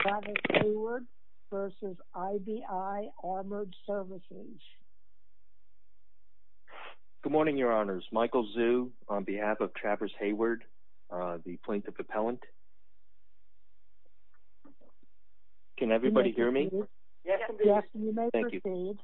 Travis Hayward v. IBI Armored Services Good morning your honors, Michael Zhu on behalf of Travis Hayward, the plaintiff appellant. Can everybody hear me? Yes, you may proceed.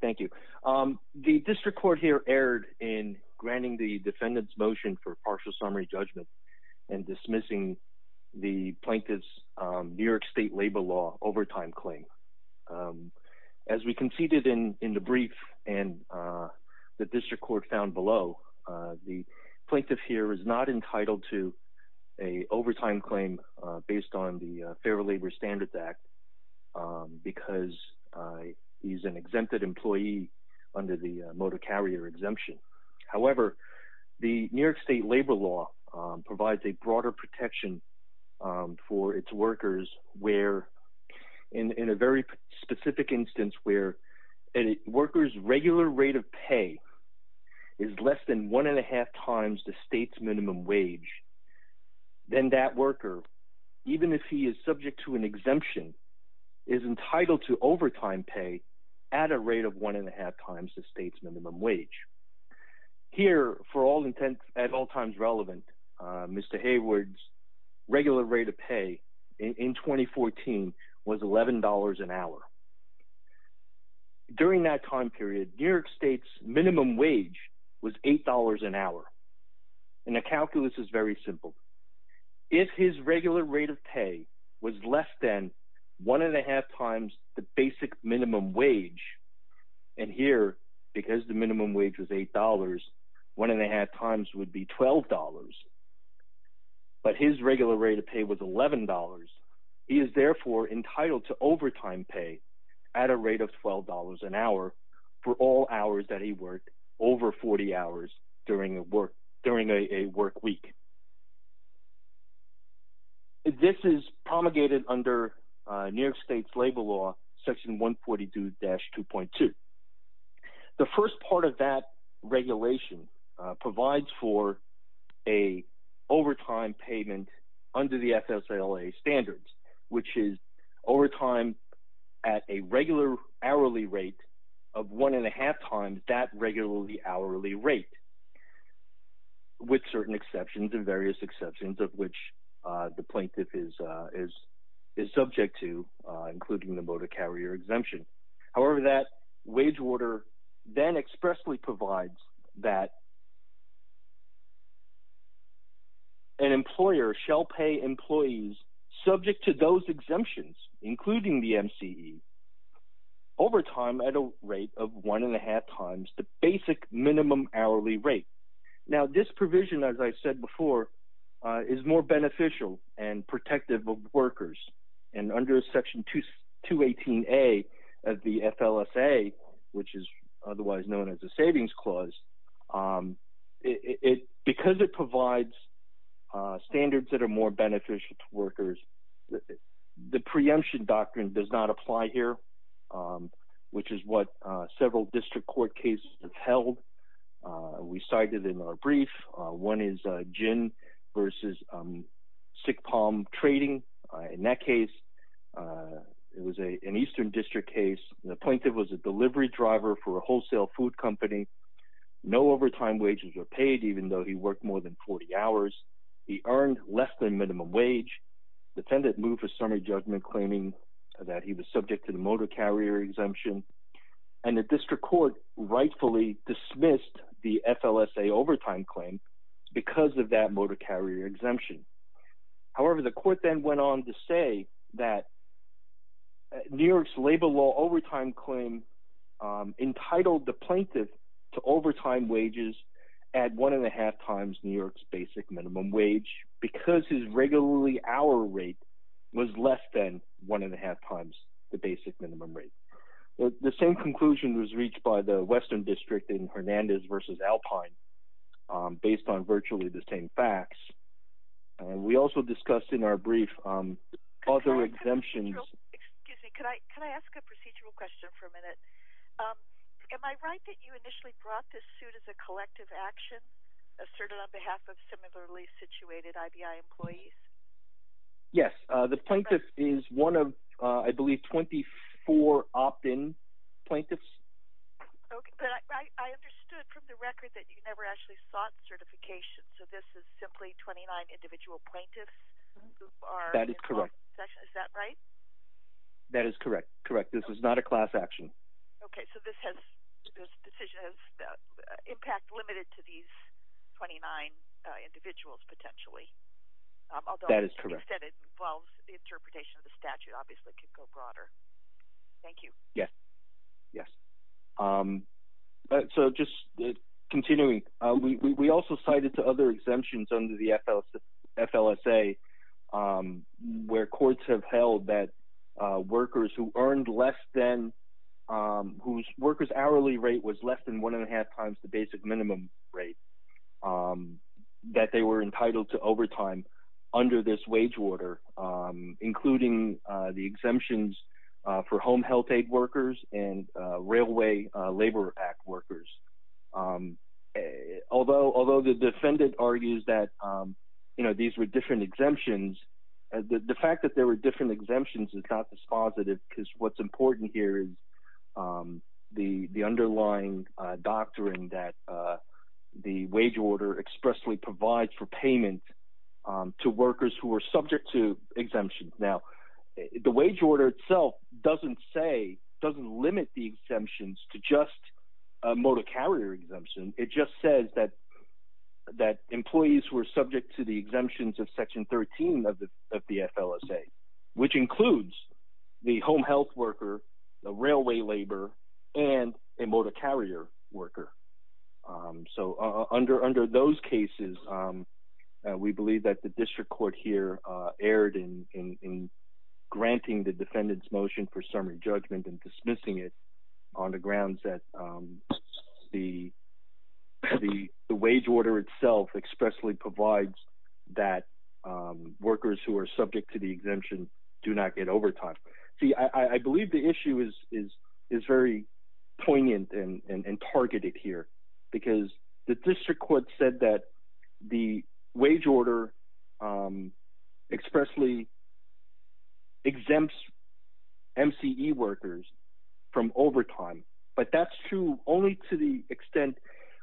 Thank you. The district court here erred in granting the defendant's motion for partial summary judgment and dismissing the plaintiff's New York State Labor Law overtime claim. As we conceded in the brief and the district court found below, the plaintiff here is not entitled to an overtime claim based on the Fair Labor Standards Act because he's an exempted employee under the motor carrier exemption. However, the New York State Labor Law provides a broader protection for its workers where – in a very specific instance where a worker's regular rate of pay is less than one and a half times the state's minimum wage. Then that worker, even if he is subject to an exemption, is entitled to overtime pay at a rate of one and a half times the state's minimum wage. Here, for all intents at all times relevant, Mr. Hayward's regular rate of pay in 2014 was $11 an hour. During that time period, New York State's minimum wage was $8 an hour, and the calculus is very simple. If his regular rate of pay was less than one and a half times the basic minimum wage, and here, because the minimum wage was $8, one and a half times would be $12, but his regular rate of pay was $11. He is therefore entitled to overtime pay at a rate of $12 an hour for all hours that he worked over 40 hours during a work week. This is promulgated under New York State's Labor Law, section 142-2.2. The first part of that regulation provides for an overtime payment under the FSLA standards, which is overtime at a regular hourly rate of one and a half times that regular hourly rate…… with certain exceptions and various exceptions of which the plaintiff is subject to, including the motor carrier exemption. However, that wage order then expressly provides that an employer shall pay employees subject to those exemptions, including the MCE, overtime at a rate of one and a half times the basic minimum hourly rate. Now, this provision, as I said before, is more beneficial and protective of workers, and under section 218a of the FLSA, which is otherwise known as the Savings Clause…… because it provides standards that are more beneficial to workers, the preemption doctrine does not apply here, which is what several district court cases have held. We cited in our brief, one is Gin v. Sick Palm Trading. In that case, it was an eastern district case. The plaintiff was a delivery driver for a wholesale food company. No overtime wages were paid, even though he worked more than 40 hours. He earned less than minimum wage. The defendant moved for summary judgment, claiming that he was subject to the motor carrier exemption. And the district court rightfully dismissed the FLSA overtime claim because of that motor carrier exemption. However, the court then went on to say that New York's labor law overtime claim entitled the plaintiff to overtime wages at one and a half times New York's basic minimum wage because his regularly hour rate was less than one and a half times the basic minimum rate. The same conclusion was reached by the western district in Hernandez v. Alpine, based on virtually the same facts. We also discussed in our brief other exemptions… Excuse me, can I ask a procedural question for a minute? Am I right that you initially brought this suit as a collective action, asserted on behalf of similarly situated IBI employees? Yes. The plaintiff is one of, I believe, 24 opt-in plaintiffs. Okay, but I understood from the record that you never actually sought certification, so this is simply 29 individual plaintiffs who are… That is correct. Is that right? That is correct. This is not a class action. Okay, so this decision has impact limited to these 29 individuals potentially, although… That is correct. …instead it involves the interpretation of the statute obviously could go broader. Thank you. Yes. So just continuing, we also cited to other exemptions under the FLSA where courts have held that workers who earned less than – whose workers' hourly rate was less than one and a half times the basic minimum rate, that they were entitled to overtime under this wage order, including the exemptions for Home Health Aid workers and Railway Labor Act workers. Although the defendant argues that these were different exemptions, the fact that there were different exemptions is not dispositive because what's important here is the underlying doctrine that the wage order expressly provides for payment to workers who are subject to exemptions. Now, the wage order itself doesn't say – doesn't limit the exemptions to just a motor carrier exemption. It just says that employees were subject to the exemptions of Section 13 of the FLSA, which includes the home health worker, the railway labor, and a motor carrier worker. So under those cases, we believe that the district court here erred in granting the defendant's motion for summary judgment and dismissing it on the grounds that the wage order itself expressly provides that workers who are subject to the exemption do not get overtime. See, I believe the issue is very poignant and targeted here because the district court said that the wage order expressly exempts MCE workers from overtime, but that's true only to the extent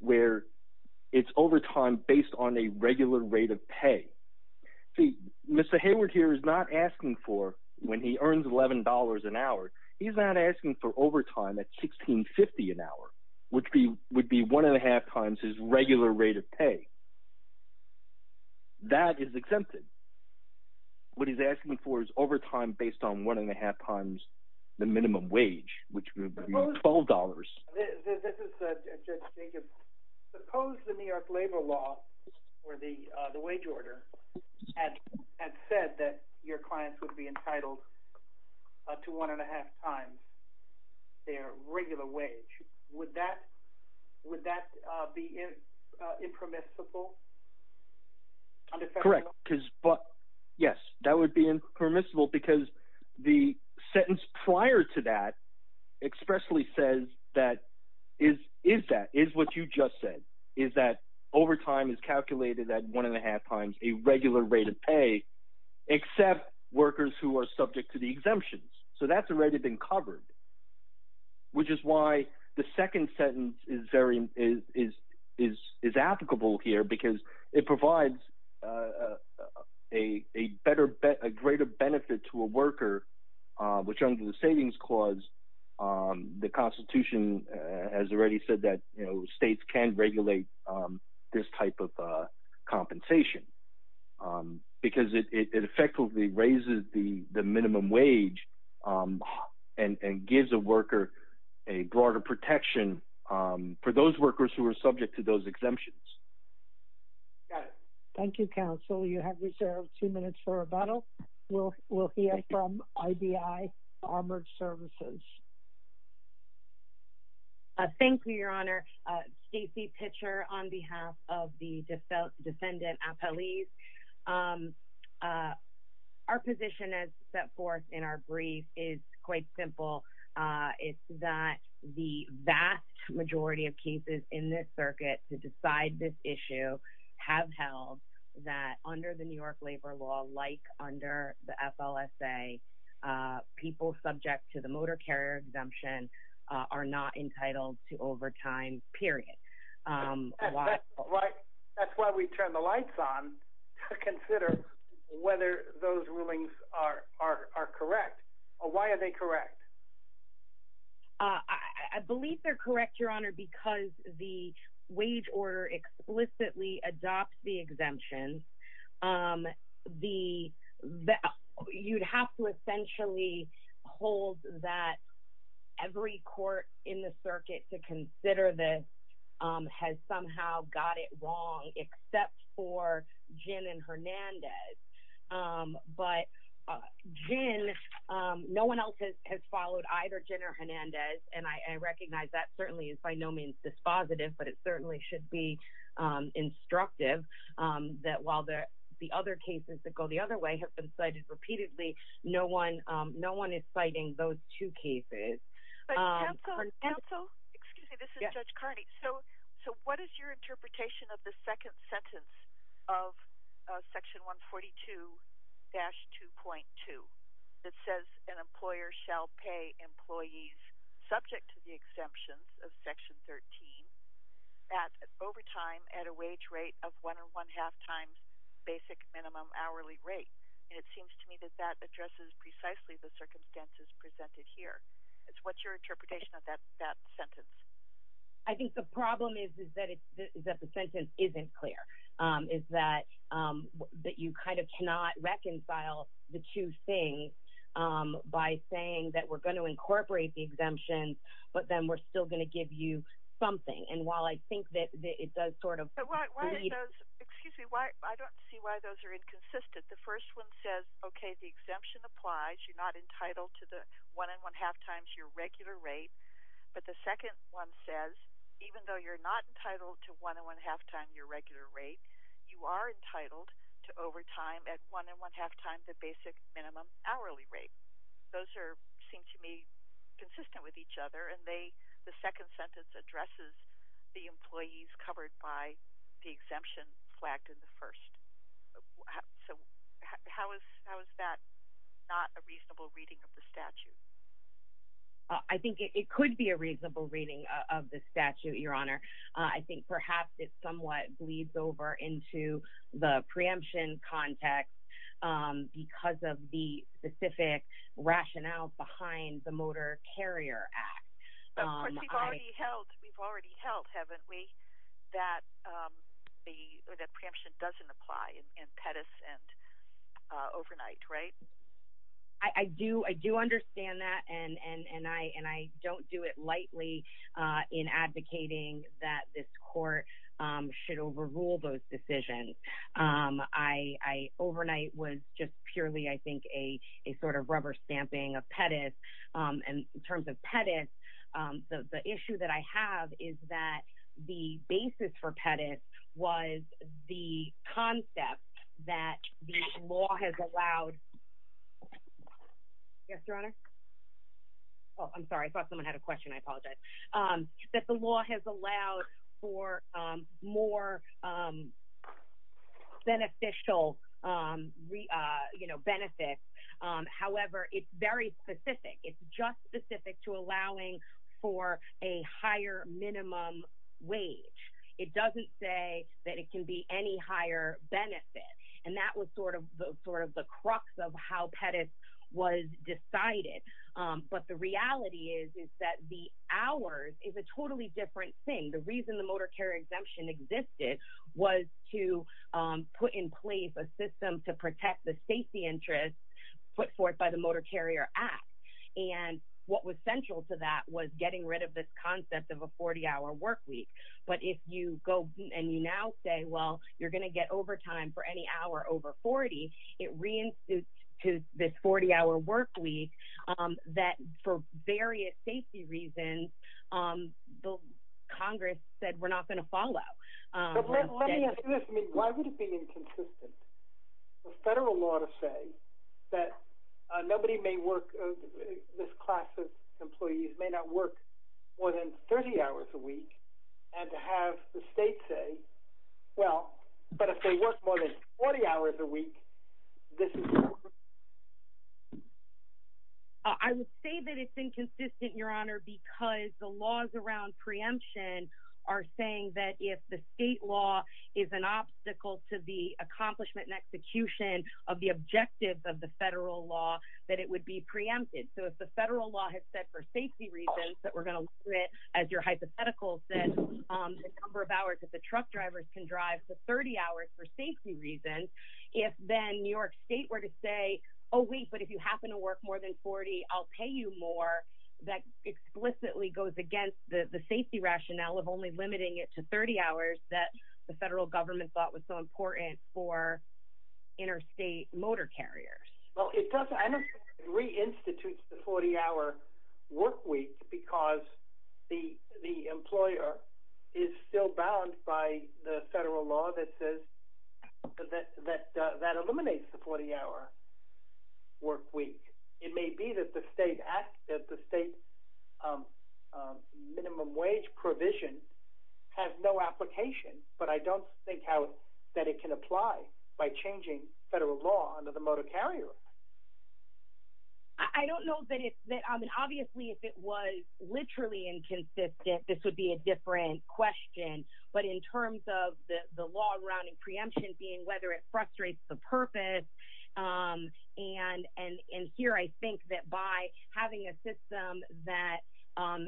where it's overtime based on a regular rate of pay. See, Mr. Hayward here is not asking for – when he earns $11 an hour, he's not asking for overtime at $16.50 an hour, which would be one and a half times his regular rate of pay. That is exempted. What he's asking for is overtime based on one and a half times the minimum wage, which would be $12. This is Judge Jacobs. Suppose the New York labor law or the wage order had said that your clients would be entitled to one and a half times their regular wage. Would that be impermissible? Correct. Yes, that would be impermissible because the sentence prior to that expressly says that – is that – is what you just said, is that overtime is calculated at one and a half times a regular rate of pay except workers who are subject to the exemptions. So that's already been covered, which is why the second sentence is very – is applicable here because it provides a better – a greater benefit to a worker, which under the savings clause, the Constitution has already said that states can't regulate this type of compensation because it effectively raises the minimum wage. And gives a worker a broader protection for those workers who are subject to those exemptions. Thank you, counsel. You have reserved two minutes for rebuttal. We'll hear from IBI Armored Services. Thank you, Your Honor. Stacey Pitcher on behalf of the defendant appellees. Our position as set forth in our brief is quite simple. It's that the vast majority of cases in this circuit to decide this issue have held that under the New York labor law, like under the FLSA, people subject to the motor carrier exemption are not entitled to overtime, period. That's why we turned the lights on to consider whether those rulings are correct. Why are they correct? I believe they're correct, Your Honor, because the wage order explicitly adopts the exemptions. The – you'd have to essentially hold that every court in the circuit to consider this has somehow got it wrong except for Ginn and Hernandez. But Ginn – no one else has followed either Ginn or Hernandez, and I recognize that certainly is by no means dispositive, but it certainly should be instructive that while the other cases that go the other way have been cited repeatedly, no one is citing those two cases. Counsel, excuse me, this is Judge Carney. So what is your interpretation of the second sentence of Section 142-2.2 that says an employer shall pay employees subject to the exemptions of Section 13 at overtime at a wage rate of one or one-half times basic minimum hourly rate? And it seems to me that that addresses precisely the circumstances presented here. What's your interpretation of that sentence? I think the problem is that the sentence isn't clear, is that you kind of cannot reconcile the two things by saying that we're going to incorporate the exemptions, but then we're still going to give you something. And while I think that it does sort of – Excuse me, I don't see why those are inconsistent. The first one says, okay, the exemption applies, you're not entitled to the one and one-half times your regular rate, but the second one says even though you're not entitled to one and one-half times your regular rate, you are entitled to overtime at one and one-half times the basic minimum hourly rate. Those seem to me consistent with each other, and the second sentence addresses the employees covered by the exemption flagged in the first. So how is that not a reasonable reading of the statute? I think it could be a reasonable reading of the statute, Your Honor. I think perhaps it somewhat bleeds over into the preemption context because of the specific rationale behind the Motor Carrier Act. But we've already held, haven't we, that preemption doesn't apply in Pettus and overnight, right? I do understand that, and I don't do it lightly in advocating that this court should overrule those decisions. Overnight was just purely, I think, a sort of rubber stamping of Pettus, and in terms of Pettus, the issue that I have is that the basis for Pettus was the concept that the law has allowed – beneficial benefits. However, it's very specific. It's just specific to allowing for a higher minimum wage. It doesn't say that it can be any higher benefit, and that was sort of the crux of how Pettus was decided. But the reality is that the hours is a totally different thing. The reason the Motor Carrier Exemption existed was to put in place a system to protect the safety interests put forth by the Motor Carrier Act. And what was central to that was getting rid of this concept of a 40-hour workweek. But if you go and you now say, well, you're going to get overtime for any hour over 40, it reinstitutes to this 40-hour workweek that, for various safety reasons, Congress said we're not going to follow. But let me ask you this. I mean, why would it be inconsistent for federal law to say that nobody may work – this class of employees may not work more than 30 hours a week, and to have the state say, well, but if they work more than 40 hours a week, this is – I would say that it's inconsistent, Your Honor, because the laws around preemption are saying that if the state law is an obstacle to the accomplishment and execution of the objectives of the federal law, that it would be preempted. So if the federal law had said for safety reasons that we're going to limit, as your hypothetical said, the number of hours that the truck drivers can drive to 30 hours for safety reasons, if then New York State were to say, oh, wait, but if you happen to work more than 40, I'll pay you more, that explicitly goes against the safety rationale of only limiting it to 30 hours that the federal government thought was so important for interstate motor carriers. Well, it doesn't – I don't think it reinstitutes the 40-hour work week because the employer is still bound by the federal law that says – that eliminates the 40-hour work week. It may be that the state minimum wage provision has no application, but I don't think that it can apply by changing federal law under the motor carrier law. I don't know that it's – I mean, obviously, if it was literally inconsistent, this would be a different question. But in terms of the law around preemption being whether it frustrates the purpose, and here I think that by having a system that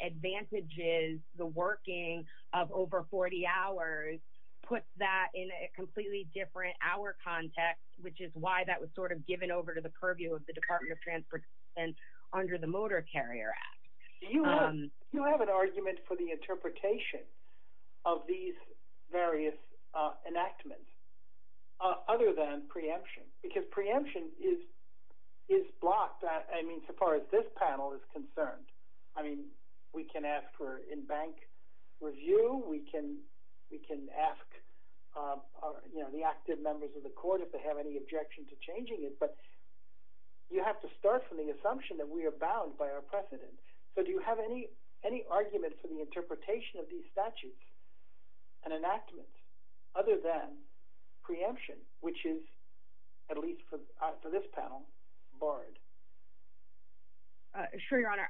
advantages the working of over 40 hours puts that in a completely different hour context, which is why that was sort of given over to the purview of the Department of Transportation under the Motor Carrier Act. Do you have an argument for the interpretation of these various enactments other than preemption? Because preemption is blocked, I mean, so far as this panel is concerned. I mean, we can ask for in-bank review. We can ask the active members of the court if they have any objection to changing it, but you have to start from the assumption that we are bound by our precedent. So do you have any argument for the interpretation of these statutes and enactments other than preemption, which is, at least for this panel, barred? Sure, Your Honor.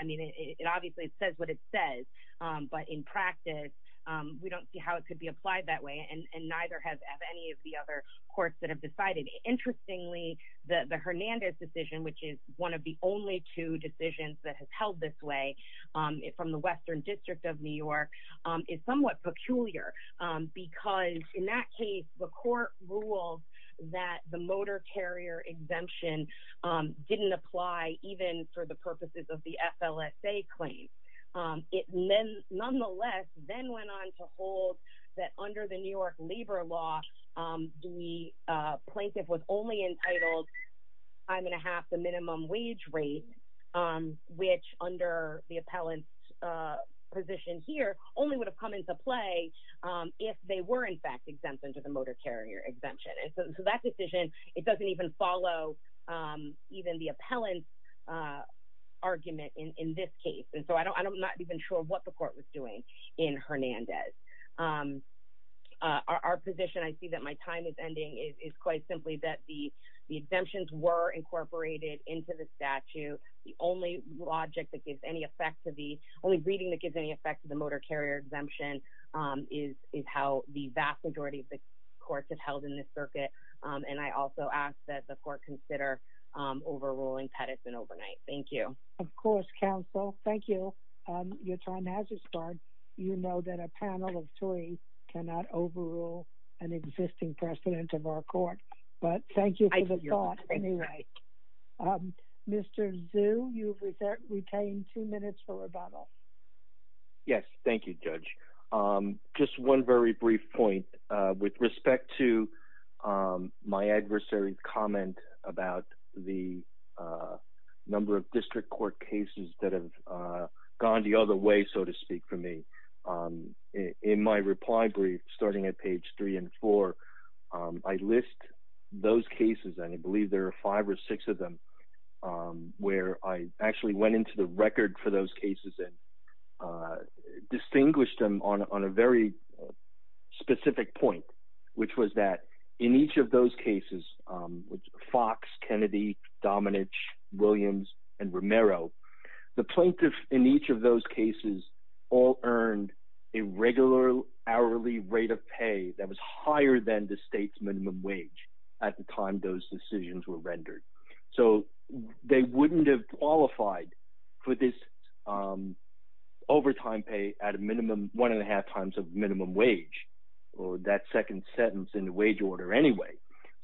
And, I mean, it obviously says what it says, but in practice, we don't see how it could be applied that way, and neither have any of the other courts that have decided. Interestingly, the Hernandez decision, which is one of the only two decisions that has held this way from the Western District of New York, is somewhat peculiar because, in that case, the court ruled that the motor carrier exemption didn't apply even for the purposes of the FLSA claim. It nonetheless then went on to hold that, under the New York labor law, the plaintiff was only entitled time and a half the minimum wage rate, which, under the appellant's position here, only would have come into play if they were, in fact, exempted under the motor carrier exemption. And so that decision, it doesn't even follow even the appellant's argument in this case. And so I'm not even sure what the court was doing in Hernandez. Our position, I see that my time is ending, is quite simply that the exemptions were incorporated into the statute. The only reading that gives any effect to the motor carrier exemption is how the vast majority of the courts have held in this circuit. And I also ask that the court consider overruling Pettis and Overnight. Thank you. Of course, counsel. Thank you. Your time has expired. You know that a panel of three cannot overrule an existing precedent of our court. But thank you for the thought, anyway. Mr. Zhu, you've retained two minutes for rebuttal. Yes. Thank you, Judge. Just one very brief point. With respect to my adversary's comment about the number of district court cases that have gone the other way, so to speak, for me. In my reply brief, starting at page three and four, I list those cases, and I believe there are five or six of them, where I actually went into the record for those cases and distinguished them on a very specific point, which was that in each of those cases, Fox, Kennedy, Dominich, Williams, and Romero, the plaintiff in each of those cases all earned a regular hourly rate of pay that was higher than the state's minimum wage at the time those decisions were rendered. So they wouldn't have qualified for this overtime pay at a minimum one and a half times of minimum wage, or that second sentence in the wage order anyway.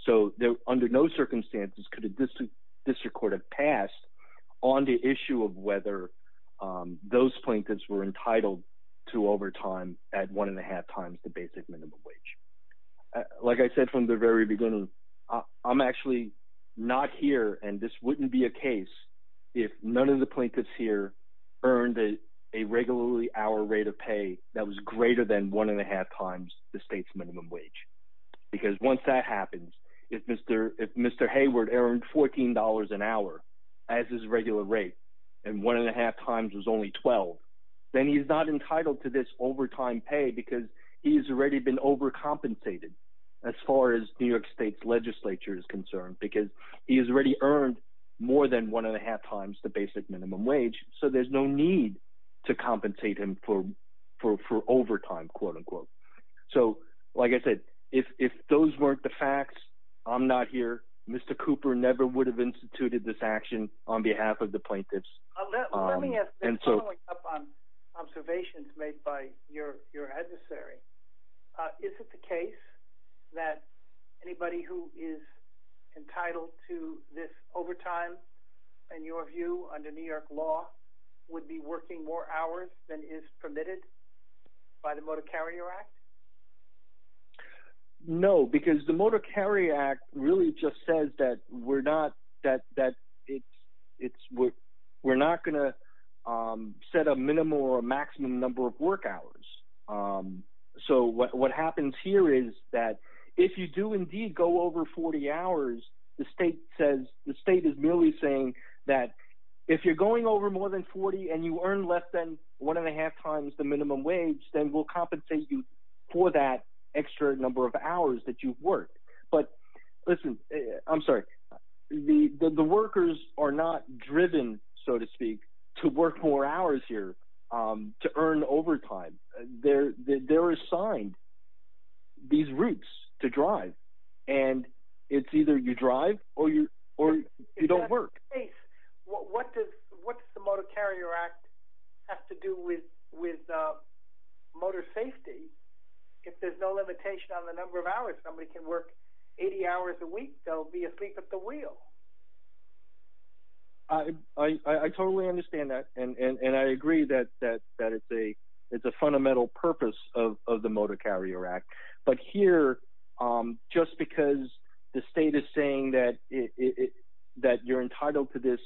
So under no circumstances could a district court have passed on the issue of whether those plaintiffs were entitled to overtime at one and a half times the basic minimum wage. Like I said from the very beginning, I'm actually not here, and this wouldn't be a case if none of the plaintiffs here earned a regular hourly rate of pay that was greater than one and a half times the state's minimum wage. Because once that happens, if Mr. Hayward earned $14 an hour as his regular rate and one and a half times was only $12, then he's not entitled to this overtime pay because he has already been overcompensated as far as New York State's legislature is concerned because he has already earned more than one and a half times the basic minimum wage. So there's no need to compensate him for overtime. So like I said, if those weren't the facts, I'm not here. Mr. Cooper never would have instituted this action on behalf of the plaintiffs. Let me ask this following up on observations made by your adversary. Is it the case that anybody who is entitled to this overtime, in your view, under New York law, would be working more hours than is permitted by the Motor Carrier Act? No, because the Motor Carrier Act really just says that we're not going to set a minimum or maximum number of work hours. So what happens here is that if you do indeed go over 40 hours, the state says – the state is merely saying that if you're going over more than 40 and you earn less than one and a half times the minimum wage, then we'll compensate you for that extra number of hours that you've worked. But listen, I'm sorry. The workers are not driven, so to speak, to work more hours here to earn overtime. They're assigned these routes to drive, and it's either you drive or you don't work. In that case, what does the Motor Carrier Act have to do with motor safety? If there's no limitation on the number of hours somebody can work 80 hours a week, they'll be asleep at the wheel. I totally understand that, and I agree that it's a fundamental purpose of the Motor Carrier Act. But here, just because the state is saying that you're entitled to this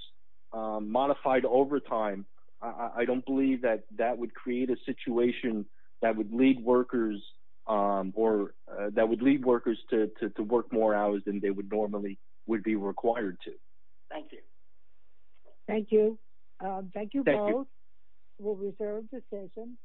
modified overtime, I don't believe that that would create a situation that would lead workers to work more hours than they normally would be required to. Thank you. Thank you. Thank you both. We'll reserve the session.